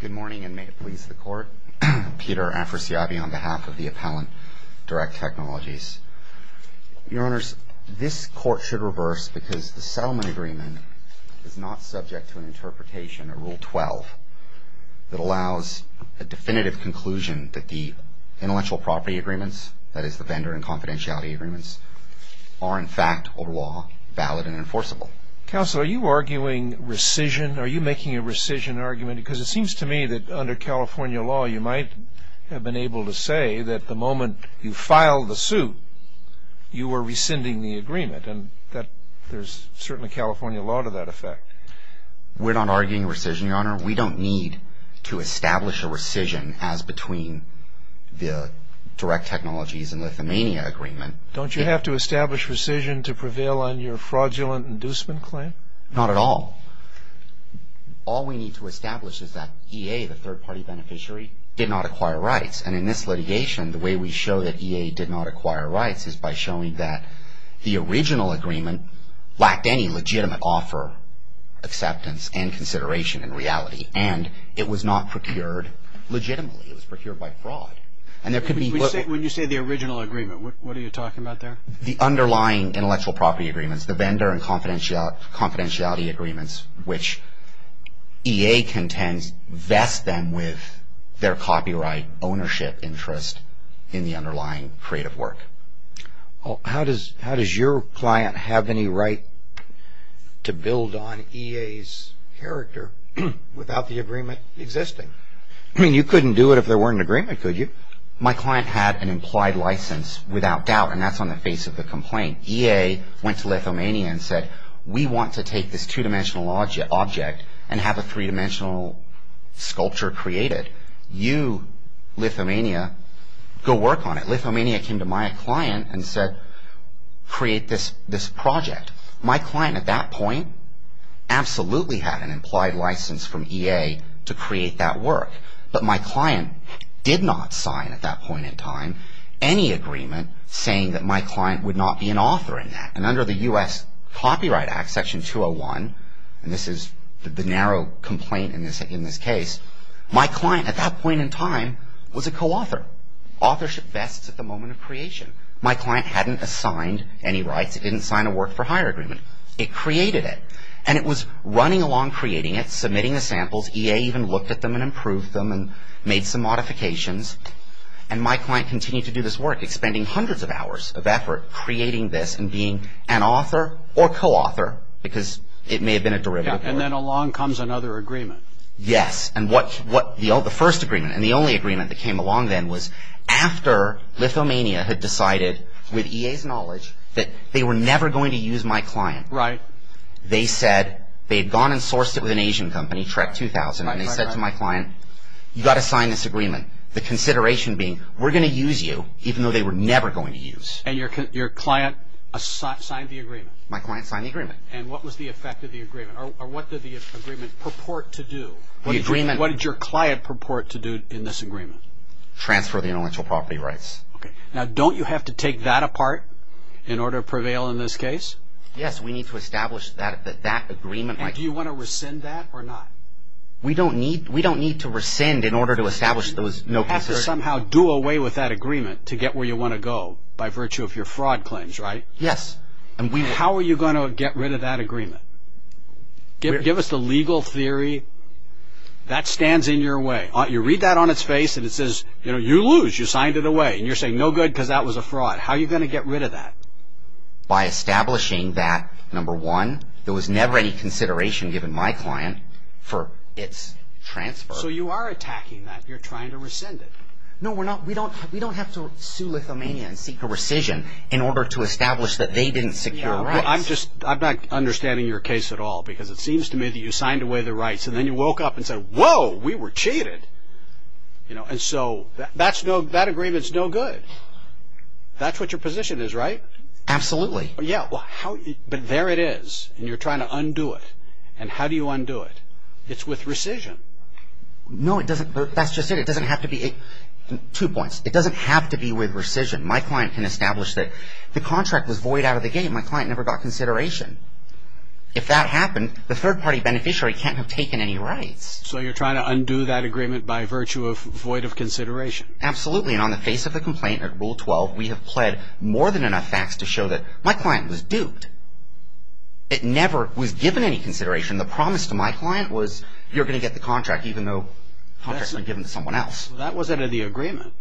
Good morning, and may it please the Court. Peter Afrasiabi on behalf of the Appellant Direct Technologies. Your Honors, this Court should reverse because the settlement agreement is not subject to an interpretation of Rule 12 that allows a definitive conclusion that the intellectual property agreements, that is the vendor and confidentiality agreements, are in fact, over law, valid and enforceable. Counsel, are you arguing rescission? Are you making a rescission argument? Because it seems to me that under California law, you might have been able to say that the moment you filed the suit, you were rescinding the agreement, and there's certainly California law to that effect. We're not arguing rescission, Your Honor. We don't need to establish a rescission as between the Direct Technologies and Lithuania agreement. Don't you have to establish rescission to prevail on your fraudulent inducement claim? Not at all. All we need to establish is that EA, the third-party beneficiary, did not acquire rights. And in this litigation, the way we show that EA did not acquire rights is by showing that the original agreement lacked any legitimate offer, acceptance, and consideration in reality. And it was not procured legitimately. It was procured by fraud. When you say the original agreement, what are you talking about there? The underlying intellectual property agreements, the vendor and confidentiality agreements, which EA contends vest them with their copyright ownership interest in the underlying creative work. How does your client have any right to build on EA's character without the agreement existing? I mean, you couldn't do it if there weren't an agreement, could you? My client had an implied license without doubt, and that's on the face of the complaint. EA went to Lithuania and said, we want to take this two-dimensional object and have a three-dimensional sculpture created. You, Lithuania, go work on it. Lithuania came to my client and said, create this project. My client at that point absolutely had an implied license from EA to create that work. But my client did not sign at that point in time any agreement saying that my client would not be an author in that. And under the U.S. Copyright Act, Section 201, and this is the narrow complaint in this case, my client at that point in time was a co-author. Authorship vests at the moment of creation. My client hadn't assigned any rights. It didn't sign a work-for-hire agreement. It created it. And it was running along creating it, submitting the samples. EA even looked at them and improved them and made some modifications. And my client continued to do this work, expending hundreds of hours of effort creating this and being an author or co-author, because it may have been a derivative work. And then along comes another agreement. Yes. And the first agreement and the only agreement that came along then was after Lithuania had decided, with EA's knowledge, that they were never going to use my client. Right. They had gone and sourced it with an Asian company, Trek 2000, and they said to my client, you've got to sign this agreement. The consideration being, we're going to use you, even though they were never going to use. And your client signed the agreement. My client signed the agreement. And what was the effect of the agreement? Or what did the agreement purport to do? What did your client purport to do in this agreement? Transfer the intellectual property rights. Okay. Now, don't you have to take that apart in order to prevail in this case? Yes, we need to establish that agreement. And do you want to rescind that or not? We don't need to rescind in order to establish those. You have to somehow do away with that agreement to get where you want to go by virtue of your fraud claims, right? Yes. And how are you going to get rid of that agreement? Give us the legal theory that stands in your way. You read that on its face and it says, you know, you lose. You signed it away. And you're saying no good because that was a fraud. How are you going to get rid of that? By establishing that, number one, there was never any consideration given my client for its transfer. So you are attacking that. You're trying to rescind it. No, we're not. We don't have to sue Lithuania and seek a rescission in order to establish that they didn't secure rights. I'm not understanding your case at all because it seems to me that you signed away the rights and then you woke up and said, whoa, we were cheated. And so that agreement is no good. That's what your position is, right? Absolutely. Yeah, but there it is. And you're trying to undo it. And how do you undo it? It's with rescission. No, that's just it. Two points. It doesn't have to be with rescission. My client can establish that the contract was void out of the game. My client never got consideration. If that happened, the third-party beneficiary can't have taken any rights. So you're trying to undo that agreement by virtue of void of consideration. Absolutely. And on the face of the complaint at Rule 12, we have pled more than enough facts to show that my client was duped. It never was given any consideration. The promise to my client was you're going to get the contract even though the contract had been given to someone else. That wasn't in the agreement.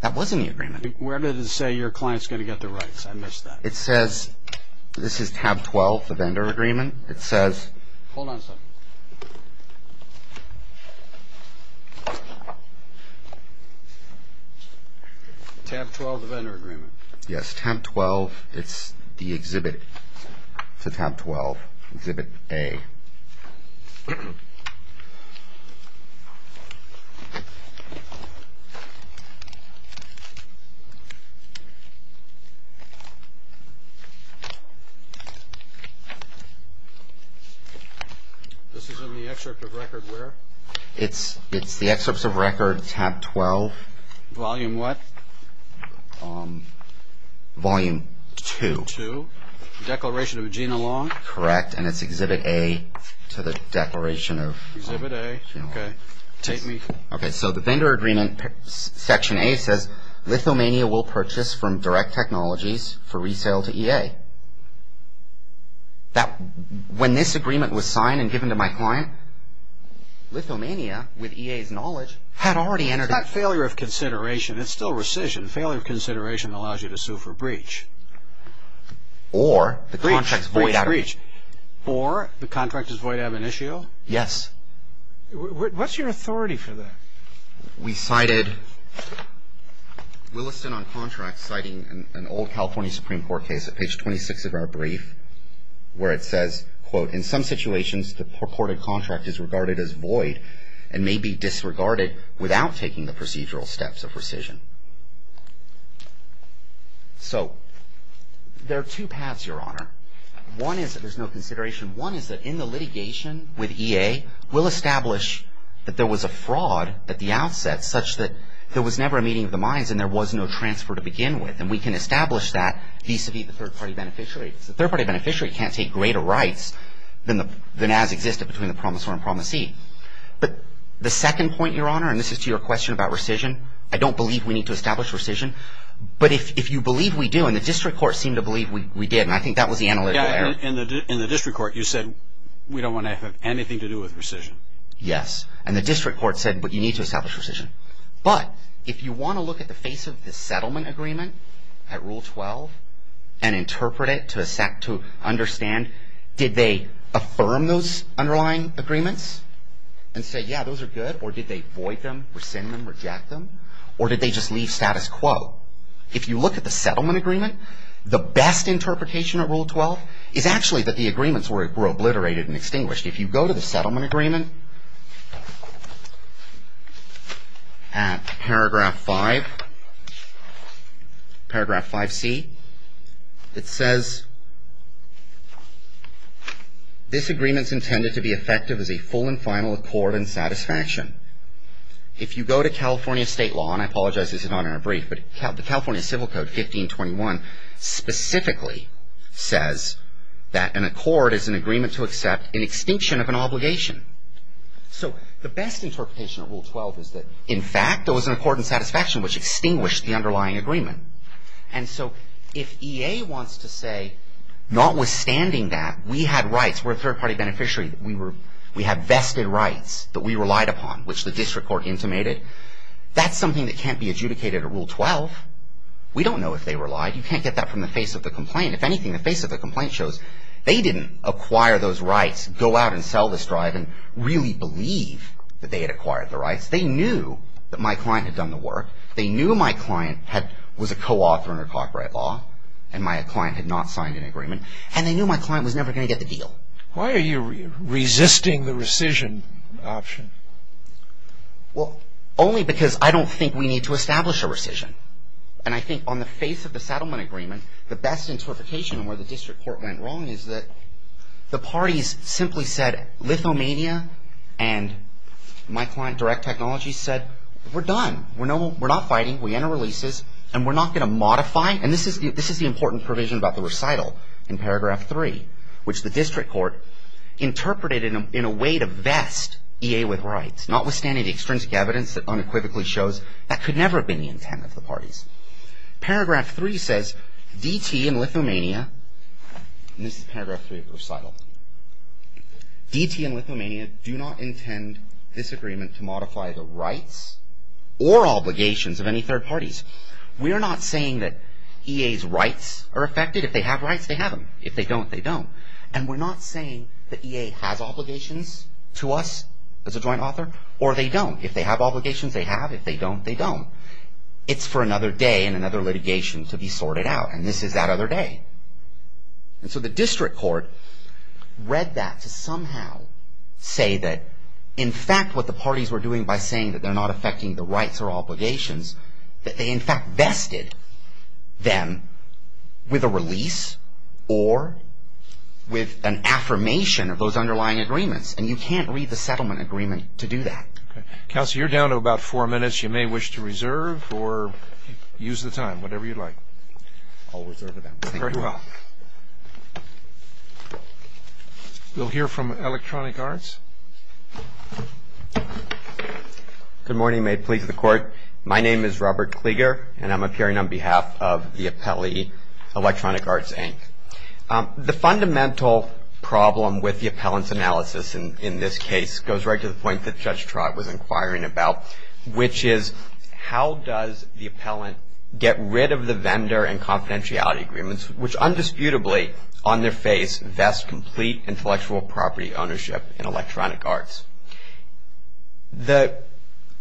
That was in the agreement. Where did it say your client's going to get the rights? I missed that. It says this is tab 12, the vendor agreement. It says... Hold on a second. Tab 12, the vendor agreement. Yes, tab 12, it's the exhibit to tab 12, exhibit A. This is in the excerpt of record where? It's the excerpts of record tab 12. Volume what? Volume 2. Volume 2, the declaration of Gina Long? Correct, and it's exhibit A to the declaration of... Exhibit A, okay. Okay, so the vendor agreement, section A says Lithomania will purchase from Direct Technologies for resale to EA. When this agreement was signed and given to my client, Lithomania, with EA's knowledge... It's not failure of consideration. It's still rescission. Failure of consideration allows you to sue for breach. Or the contract's void of... Breach. Or the contract is void of initio? Yes. What's your authority for that? We cited Williston on contract citing an old California Supreme Court case at page 26 of our brief where it says, quote, in some situations the purported contract is regarded as void and may be disregarded without taking the procedural steps of rescission. So there are two paths, Your Honor. One is that there's no consideration. One is that in the litigation with EA, we'll establish that there was a fraud at the outset such that there was never a meeting of the minds and there was no transfer to begin with. And we can establish that vis-a-vis the third party beneficiary. The third party beneficiary can't take greater rights than as existed between the promisor and promisee. But the second point, Your Honor, and this is to your question about rescission, I don't believe we need to establish rescission. But if you believe we do, and the district court seemed to believe we did, and I think that was the analytical error. In the district court, you said we don't want to have anything to do with rescission. Yes. And the district court said, but you need to establish rescission. But if you want to look at the face of the settlement agreement at Rule 12 and interpret it to understand, did they affirm those underlying agreements and say, yeah, those are good? Or did they void them, rescind them, reject them? Or did they just leave status quo? If you look at the settlement agreement, the best interpretation of Rule 12 is actually that the agreements were obliterated and extinguished. If you go to the settlement agreement at Paragraph 5, Paragraph 5C, it says, this agreement is intended to be effective as a full and final accord and satisfaction. If you go to California state law, and I apologize this is not in our brief, but the California Civil Code, 1521, specifically says that an accord is an agreement to accept an extinction of an obligation. So the best interpretation of Rule 12 is that, in fact, there was an accord and satisfaction which extinguished the underlying agreement. And so if EA wants to say, notwithstanding that, we had rights, we're a third-party beneficiary, we have vested rights that we relied upon, which the district court intimated, that's something that can't be adjudicated at Rule 12. We don't know if they relied. You can't get that from the face of the complaint. If anything, the face of the complaint shows they didn't acquire those rights, go out and sell this drive and really believe that they had acquired the rights. They knew that my client had done the work. They knew my client was a co-author under copyright law, and my client had not signed an agreement. And they knew my client was never going to get the deal. Why are you resisting the rescission option? Well, only because I don't think we need to establish a rescission. And I think on the face of the settlement agreement, the best interpretation of where the district court went wrong is that the parties simply said, Lithomania and my client, Direct Technology, said, we're done. We're not fighting. We enter releases, and we're not going to modify. And this is the important provision about the recital in paragraph 3, which the district court interpreted in a way to vest EA with rights, notwithstanding the extrinsic evidence that unequivocally shows that could never have been the intent of the parties. Paragraph 3 says, DT and Lithomania, and this is paragraph 3 of the recital, DT and Lithomania do not intend this agreement to modify the rights or obligations of any third parties. We are not saying that EA's rights are affected. If they have rights, they have them. If they don't, they don't. And we're not saying that EA has obligations to us as a joint author, or they don't. If they have obligations, they have. If they don't, they don't. It's for another day and another litigation to be sorted out, and this is that other day. And so the district court read that to somehow say that, in fact, what the parties were doing by saying that they're not affecting the rights or obligations, that they, in fact, vested them with a release or with an affirmation of those underlying agreements, and you can't read the settlement agreement to do that. Counsel, you're down to about four minutes. You may wish to reserve or use the time, whatever you'd like. I'll reserve it then. Very well. We'll hear from Electronic Arts. Good morning. You may please to the court. My name is Robert Klieger, and I'm appearing on behalf of the appellee, Electronic Arts, Inc. The fundamental problem with the appellant's analysis in this case goes right to the point that Judge Trott was inquiring about, which is how does the appellant get rid of the vendor and confidentiality agreements, which undisputably, on their face, vest complete intellectual property ownership in Electronic Arts? The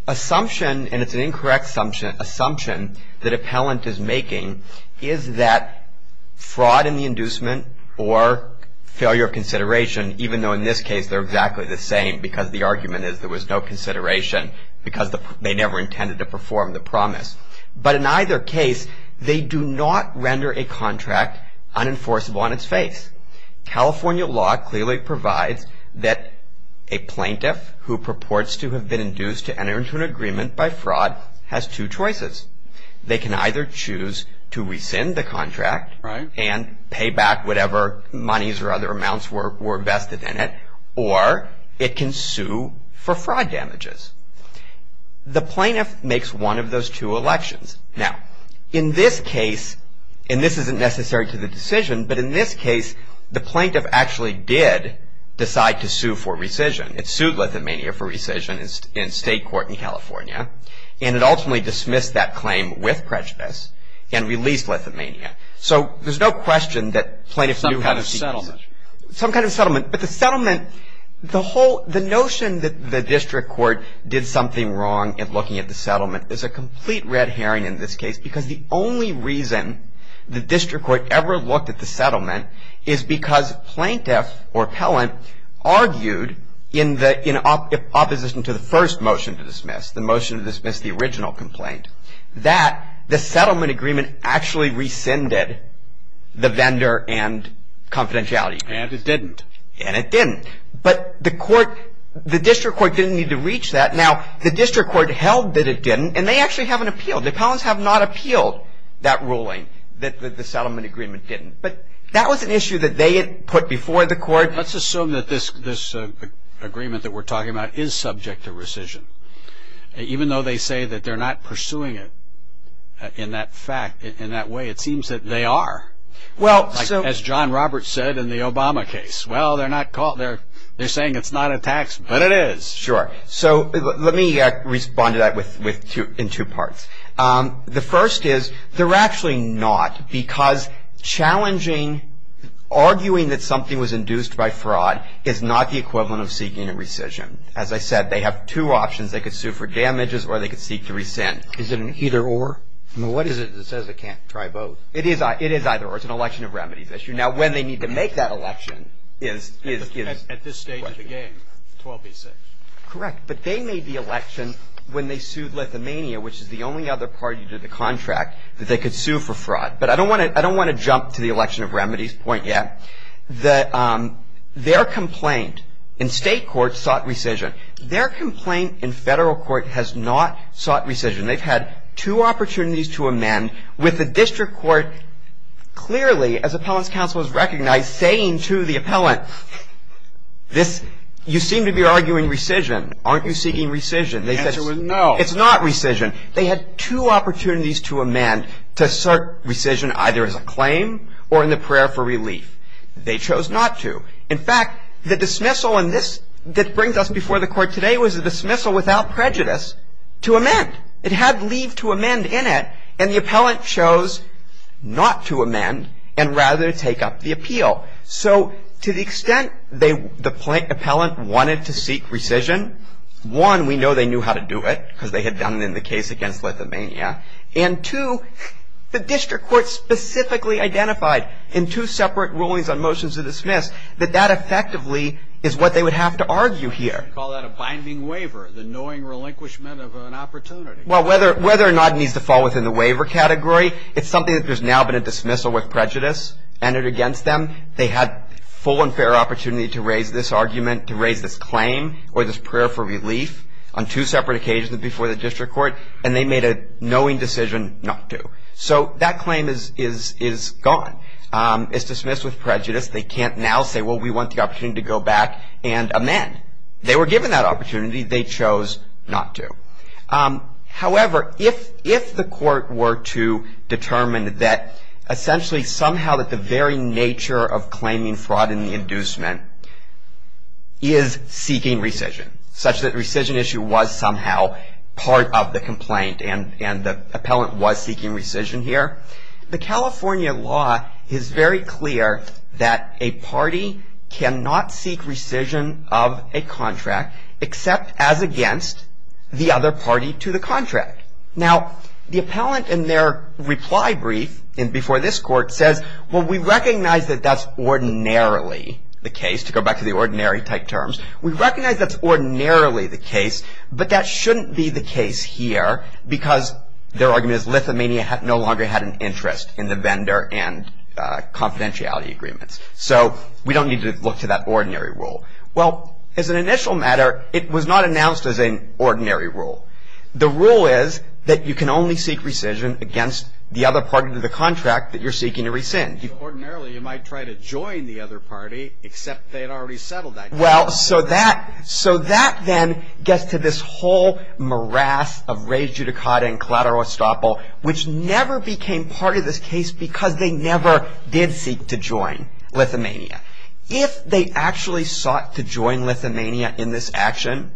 assumption, and it's an incorrect assumption, that appellant is making is that fraud in the inducement or failure of consideration, even though in this case they're exactly the same because the argument is there was no consideration because they never intended to perform the promise. But in either case, they do not render a contract unenforceable on its face. California law clearly provides that a plaintiff who purports to have been induced to enter into an agreement by fraud has two choices. They can either choose to rescind the contract and pay back whatever monies or other amounts were vested in it, or it can sue for fraud damages. The plaintiff makes one of those two elections. Now, in this case, and this isn't necessary to the decision, but in this case, the plaintiff actually did decide to sue for rescission. It sued Lithuania for rescission in state court in California, and it ultimately dismissed that claim with prejudice and released Lithuania. So there's no question that plaintiffs knew how to seek rescission. Some kind of settlement. Some kind of settlement. But the settlement, the notion that the district court did something wrong in looking at the settlement is a complete red herring in this case because the only reason the district court ever looked at the settlement is because plaintiff or appellant argued in opposition to the first motion to dismiss, the motion to dismiss the original complaint, that the settlement agreement actually rescinded the vendor and confidentiality. And it didn't. And it didn't. But the district court didn't need to reach that. Now, the district court held that it didn't, and they actually have an appeal. The appellants have not appealed that ruling, that the settlement agreement didn't. But that was an issue that they had put before the court. Let's assume that this agreement that we're talking about is subject to rescission. Even though they say that they're not pursuing it in that way, it seems that they are. As John Roberts said in the Obama case, well, they're saying it's not a tax, but it is. Sure. So let me respond to that in two parts. The first is they're actually not because challenging, arguing that something was induced by fraud is not the equivalent of seeking a rescission. As I said, they have two options. They could sue for damages or they could seek to rescind. Is it an either-or? What is it that says it can't try both? It is either-or. It's an election of remedies issue. Now, when they need to make that election is the question. Correct. But they made the election when they sued Lithuania, which is the only other party to the contract that they could sue for fraud. But I don't want to jump to the election of remedies point yet. Their complaint in state court sought rescission. Their complaint in federal court has not sought rescission. They've had two opportunities to amend with the district court clearly, as Appellants Council has recognized, saying to the appellant, you seem to be arguing rescission. Aren't you seeking rescission? The answer was no. It's not rescission. They had two opportunities to amend, to assert rescission either as a claim or in the prayer for relief. They chose not to. In fact, the dismissal that brings us before the court today was a dismissal without prejudice to amend. It had leave to amend in it, and the appellant chose not to amend and rather take up the appeal. So to the extent the appellant wanted to seek rescission, one, we know they knew how to do it because they had done it in the case against Lithuania, and two, the district court specifically identified in two separate rulings on motions of dismiss that that effectively is what they would have to argue here. Call that a binding waiver, the knowing relinquishment of an opportunity. Well, whether or not it needs to fall within the waiver category, it's something that there's now been a dismissal with prejudice entered against them. They had full and fair opportunity to raise this argument, to raise this claim or this prayer for relief on two separate occasions before the district court, and they made a knowing decision not to. So that claim is gone. It's dismissed with prejudice. They can't now say, well, we want the opportunity to go back and amend. They were given that opportunity. They chose not to. However, if the court were to determine that, essentially, somehow that the very nature of claiming fraud in the inducement is seeking rescission, such that rescission issue was somehow part of the complaint and the appellant was seeking rescission here, the California law is very clear that a party cannot seek rescission of a contract except as against the other party to the contract. Now, the appellant in their reply brief before this court says, well, we recognize that that's ordinarily the case, to go back to the ordinary type terms. We recognize that's ordinarily the case, but that shouldn't be the case here because their argument is Lithuania no longer had an interest in the vendor and confidentiality agreements. So we don't need to look to that ordinary rule. Well, as an initial matter, it was not announced as an ordinary rule. The rule is that you can only seek rescission against the other party to the contract that you're seeking to rescind. Ordinarily, you might try to join the other party, except they had already settled that. Well, so that then gets to this whole morass of rei judicata and collateral estoppel, which never became part of this case because they never did seek to join Lithuania. If they actually sought to join Lithuania in this action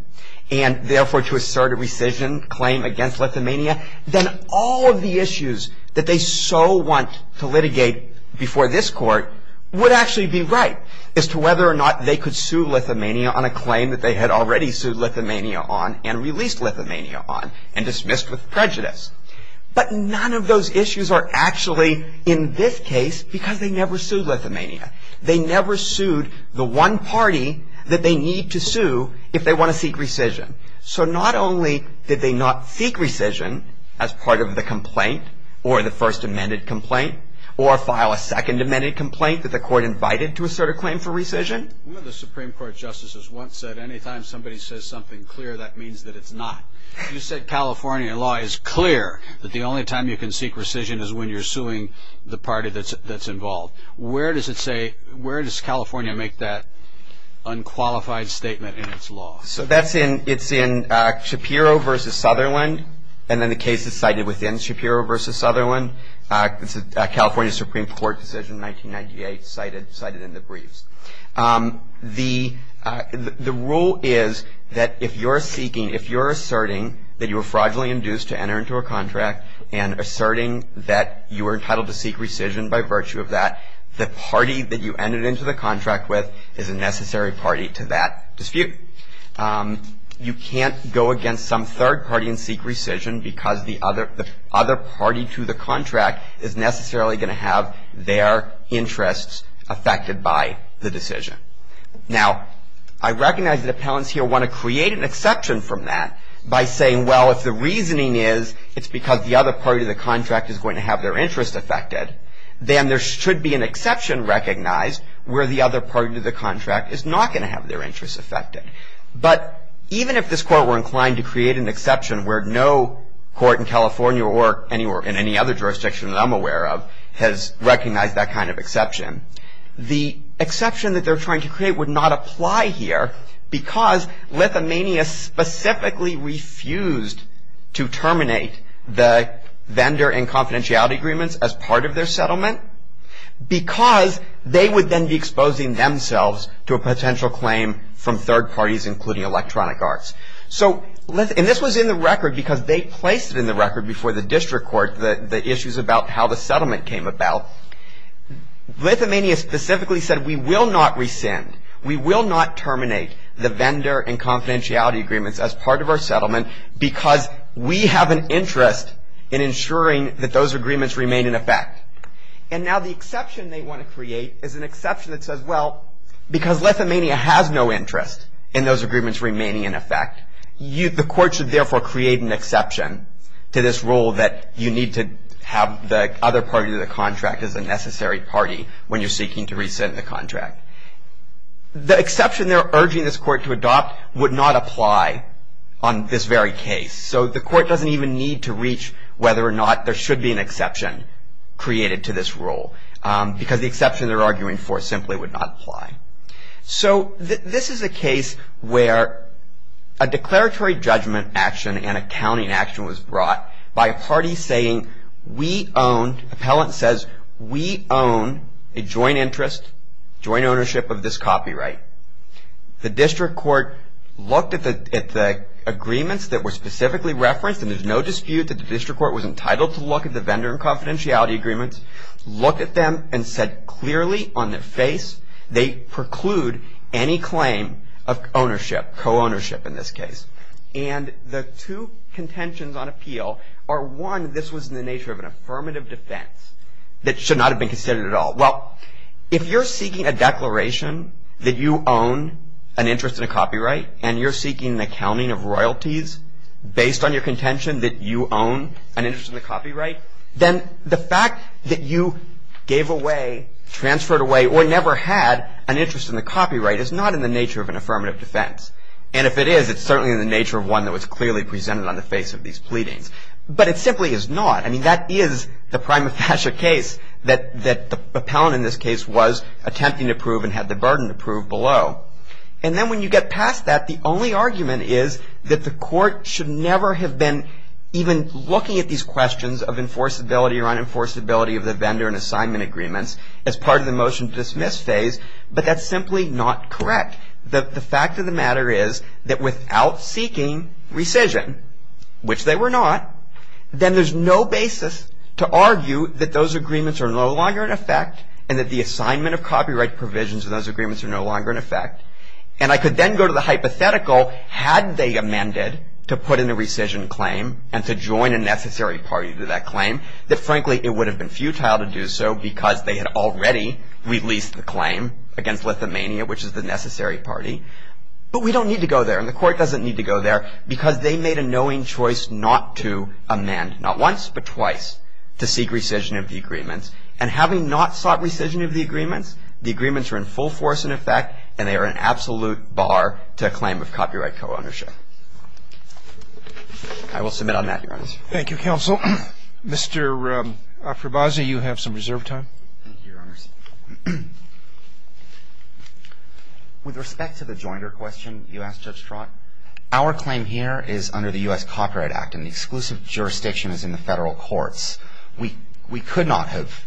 and therefore to assert a rescission claim against Lithuania, then all of the issues that they so want to litigate before this court would actually be right as to whether or not they could sue Lithuania on a claim that they had already sued Lithuania on and released Lithuania on and dismissed with prejudice. But none of those issues are actually in this case because they never sued Lithuania. They never sued the one party that they need to sue if they want to seek rescission. So not only did they not seek rescission as part of the complaint or the first amended complaint or file a second amended complaint that the court invited to assert a claim for rescission. One of the Supreme Court justices once said anytime somebody says something clear, that means that it's not. You said California law is clear that the only time you can seek rescission is when you're suing the party that's involved. Where does it say, where does California make that unqualified statement in its law? So that's in, it's in Shapiro v. Sutherland and then the case is cited within Shapiro v. Sutherland. It's a California Supreme Court decision 1998 cited in the briefs. The rule is that if you're seeking, if you're asserting that you were fraudulently induced to enter into a contract and asserting that you were entitled to seek rescission by virtue of that, the party that you entered into the contract with is a necessary party to that dispute. You can't go against some third party and seek rescission because the other party to the contract is necessarily going to have their interests affected by the decision. Now, I recognize that appellants here want to create an exception from that by saying, well, if the reasoning is it's because the other party to the contract is going to have their interests affected, then there should be an exception recognized where the other party to the contract is not going to have their interests affected. But even if this court were inclined to create an exception where no court in California or anywhere in any other jurisdiction that I'm aware of has recognized that kind of exception, the exception that they're trying to create would not apply here because Lithuania specifically refused to terminate the vendor and confidentiality agreements as part of their settlement because they would then be exposing themselves to a potential claim from third parties, including Electronic Arts. And this was in the record because they placed it in the record before the district court, the issues about how the settlement came about. Lithuania specifically said, we will not rescind. We will not terminate the vendor and confidentiality agreements as part of our settlement because we have an interest in ensuring that those agreements remain in effect. And now the exception they want to create is an exception that says, well, because Lithuania has no interest in those agreements remaining in effect, the court should therefore create an exception to this rule that you need to have the other party to the contract as a necessary party when you're seeking to rescind the contract. The exception they're urging this court to adopt would not apply on this very case. So the court doesn't even need to reach whether or not there should be an exception created to this rule because the exception they're arguing for simply would not apply. So this is a case where a declaratory judgment action and accounting action was brought by a party saying, we own, appellant says, we own a joint interest, joint ownership of this copyright. The district court looked at the agreements that were specifically referenced, and there's no dispute that the district court was entitled to look at the vendor and confidentiality agreements, looked at them and said clearly on their face they preclude any claim of ownership, co-ownership in this case. And the two contentions on appeal are, one, this was in the nature of an affirmative defense that should not have been considered at all. Well, if you're seeking a declaration that you own an interest in a copyright and you're seeking an accounting of royalties based on your contention that you own an interest in the copyright, then the fact that you gave away, transferred away, or never had an interest in the copyright is not in the nature of an affirmative defense. And if it is, it's certainly in the nature of one that was clearly presented on the face of these pleadings. But it simply is not. I mean, that is the prima facie case that the appellant in this case was attempting to prove and had the burden to prove below. And then when you get past that, the only argument is that the court should never have been even looking at these questions of enforceability or unenforceability of the vendor and assignment agreements as part of the motion to dismiss phase, but that's simply not correct. The fact of the matter is that without seeking rescission, which they were not, then there's no basis to argue that those agreements are no longer in effect and that the assignment of copyright provisions of those agreements are no longer in effect. And I could then go to the hypothetical, had they amended to put in a rescission claim and to join a necessary party to that claim, that frankly it would have been futile to do so because they had already released the claim against Lithuania, which is the necessary party. But we don't need to go there, and the court doesn't need to go there, because they made a knowing choice not to amend, not once but twice, to seek rescission of the agreements. And having not sought rescission of the agreements, the agreements are in full force and in effect and they are an absolute bar to a claim of copyright co-ownership. I will submit on that, Your Honor. Thank you, counsel. Mr. Afrabasi, you have some reserved time. Thank you, Your Honors. With respect to the jointer question you asked, Judge Strott, our claim here is under the U.S. Copyright Act and the exclusive jurisdiction is in the Federal Courts. We could not have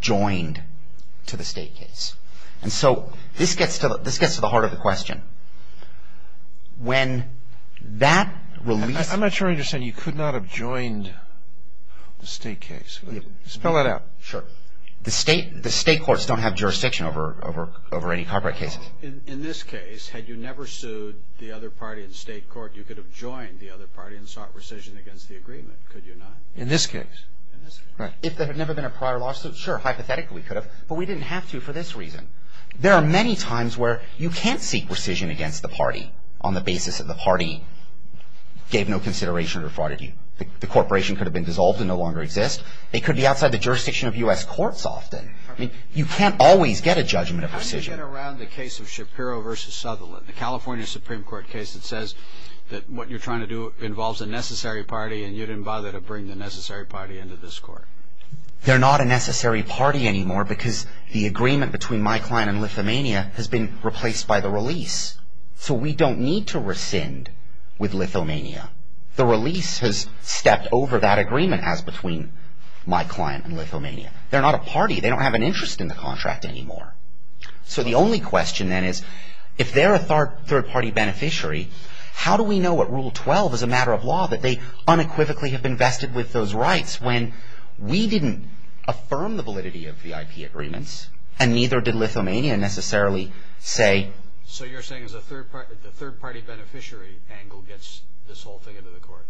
joined to the state case. And so this gets to the heart of the question. When that release of the claim against Lithuania, the state case, spell it out. Sure. The state courts don't have jurisdiction over any copyright cases. In this case, had you never sued the other party in state court, you could have joined the other party and sought rescission against the agreement, could you not? In this case. If there had never been a prior lawsuit, sure, hypothetically we could have, but we didn't have to for this reason. There are many times where you can't seek rescission against the party on the basis that the party gave no consideration to the fraudity. The corporation could have been dissolved and no longer exist. It could be outside the jurisdiction of U.S. courts often. You can't always get a judgment of rescission. How do you get around the case of Shapiro v. Sutherland, the California Supreme Court case that says that what you're trying to do involves a necessary party and you didn't bother to bring the necessary party into this court? They're not a necessary party anymore because the agreement between my client and Lithuania has been replaced by the release. So we don't need to rescind with Lithuania. The release has stepped over that agreement as between my client and Lithuania. They're not a party. They don't have an interest in the contract anymore. So the only question then is if they're a third-party beneficiary, how do we know what Rule 12 is a matter of law that they unequivocally have invested with those rights when we didn't affirm the validity of the IP agreements and neither did Lithuania necessarily say. So you're saying the third-party beneficiary angle gets this whole thing into the court?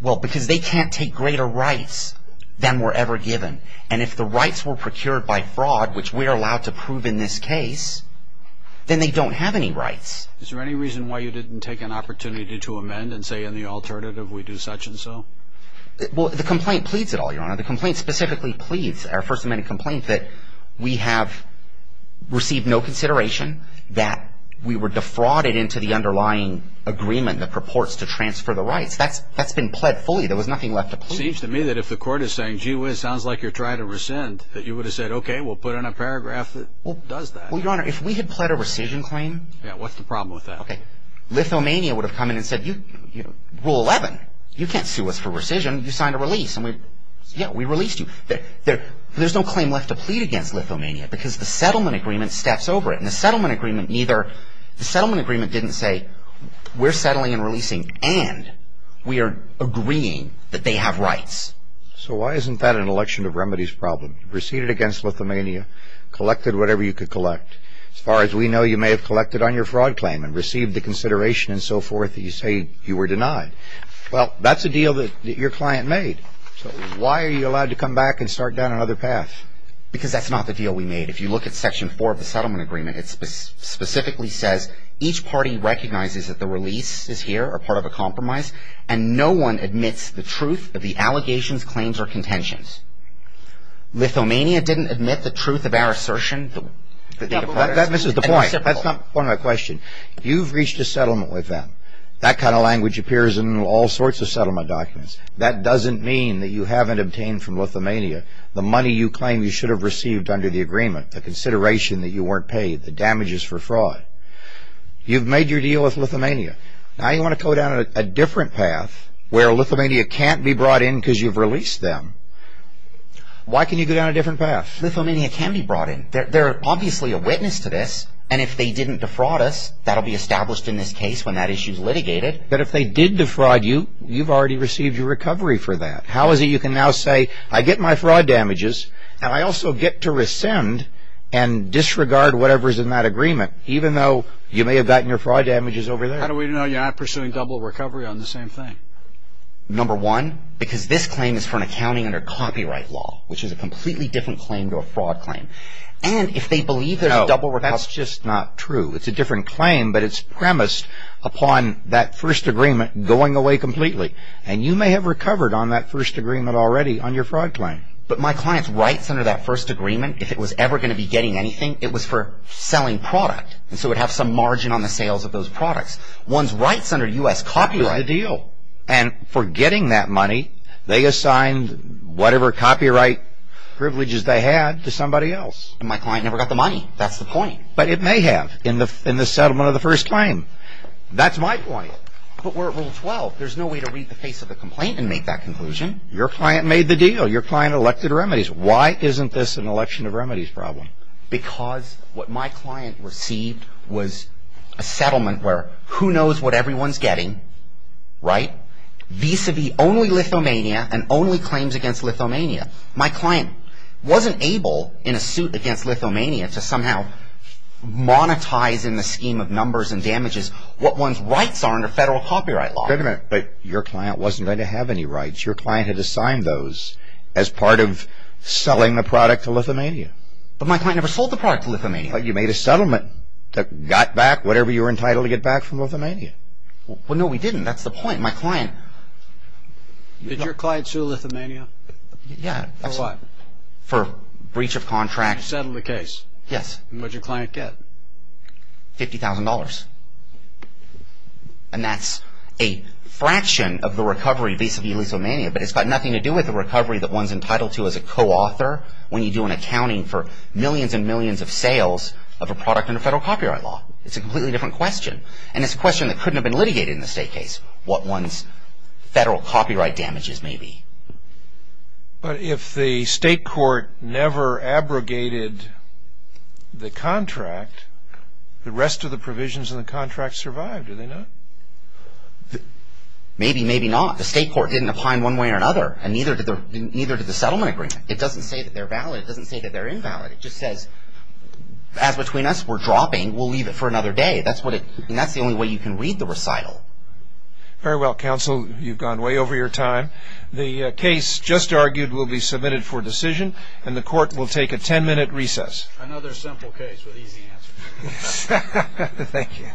Well, because they can't take greater rights than were ever given. And if the rights were procured by fraud, which we're allowed to prove in this case, then they don't have any rights. Is there any reason why you didn't take an opportunity to amend and say in the alternative we do such and so? The complaint specifically pleads, our First Amendment complaint, that we have received no consideration that we were defrauded into the underlying agreement that purports to transfer the rights. That's been pled fully. There was nothing left to plead. Seems to me that if the court is saying, gee whiz, sounds like you're trying to rescind, that you would have said, okay, we'll put in a paragraph that does that. Well, Your Honor, if we had pled a rescission claim... Yeah, what's the problem with that? Lithuania would have come in and said, Rule 11, you can't sue us for rescission. You signed a release. Yeah, we released you. There's no claim left to plead against Lithuania because the settlement agreement steps over it. And the settlement agreement neither, the settlement agreement didn't say we're settling and releasing and we are agreeing that they have rights. So why isn't that an election of remedies problem? You proceeded against Lithuania, collected whatever you could collect. As far as we know, you may have collected on your fraud claim and received the consideration and so forth that you say you were denied. Well, that's a deal that your client made. So why are you allowed to come back and start down another path? Because that's not the deal we made. If you look at Section 4 of the settlement agreement, it specifically says, each party recognizes that the release is here or part of a compromise and no one admits the truth of the allegations, claims, or contentions. Lithuania didn't admit the truth of our assertion. That misses the point. That's not part of my question. You've reached a settlement with them. That kind of language appears in all sorts of settlement documents. That doesn't mean that you haven't obtained from Lithuania the money you claim you should have received under the agreement, the consideration that you weren't paid, the damages for fraud. You've made your deal with Lithuania. Now you want to go down a different path where Lithuania can't be brought in because you've released them. Why can you go down a different path? Lithuania can be brought in. They're obviously a witness to this, and if they didn't defraud us, that'll be established in this case when that issue's litigated. But if they did defraud you, you've already received your recovery for that. How is it you can now say, I get my fraud damages, and I also get to rescind and disregard whatever's in that agreement, even though you may have gotten your fraud damages over there? How do we know you're not pursuing double recovery on the same thing? Number one, because this claim is for an accounting under copyright law, which is a completely different claim to a fraud claim. And if they believe there's a double recovery... No, that's just not true. It's a different claim, but it's premised upon that first agreement going away completely. And you may have recovered on that first agreement already on your fraud claim. But my client's rights under that first agreement, if it was ever going to be getting anything, it was for selling product. And so it'd have some margin on the sales of those products. One's rights under U.S. copyright... You're in the deal. And for getting that money, they assigned whatever copyright privileges they had to somebody else. And my client never got the money. That's the point. But it may have in the settlement of the first claim. That's my point. But we're at Rule 12. There's no way to read the face of the complaint and make that conclusion. Your client made the deal. Your client elected remedies. Why isn't this an election of remedies problem? Because what my client received was a settlement where who knows what everyone's getting, right? Vis-a-vis only Lithuania and only claims against Lithuania. My client wasn't able, in a suit against Lithuania, to somehow monetize in the scheme of numbers and damages what one's rights are under federal copyright law. But your client wasn't going to have any rights. Your client had assigned those as part of selling the product to Lithuania. But my client never sold the product to Lithuania. But you made a settlement that got back whatever you were entitled to get back from Lithuania. Well, no, we didn't. That's the point. My client... Did your client sue Lithuania? Yeah. For what? For breach of contract. You settled the case? Yes. And what'd your client get? $50,000. And that's a fraction of the recovery vis-a-vis Lithuania. But it's got nothing to do with the recovery that one's entitled to as a co-author when you do an accounting for millions and millions of sales of a product under federal copyright law. It's a completely different question. And it's a question that couldn't have been litigated in the state case, what one's federal copyright damages may be. But if the state court never abrogated the contract, the rest of the provisions in the contract survived, did they not? Maybe, maybe not. The state court didn't opine one way or another, and neither did the settlement agreement. It doesn't say that they're valid, it doesn't say that they're invalid. It just says, as between us, we're dropping, we'll leave it for another day. That's the only way you can read the recital. Very well, counsel, you've gone way over your time. The case just argued will be submitted for decision, and the court will take a 10-minute recess. Another simple case with easy answers. Thank you.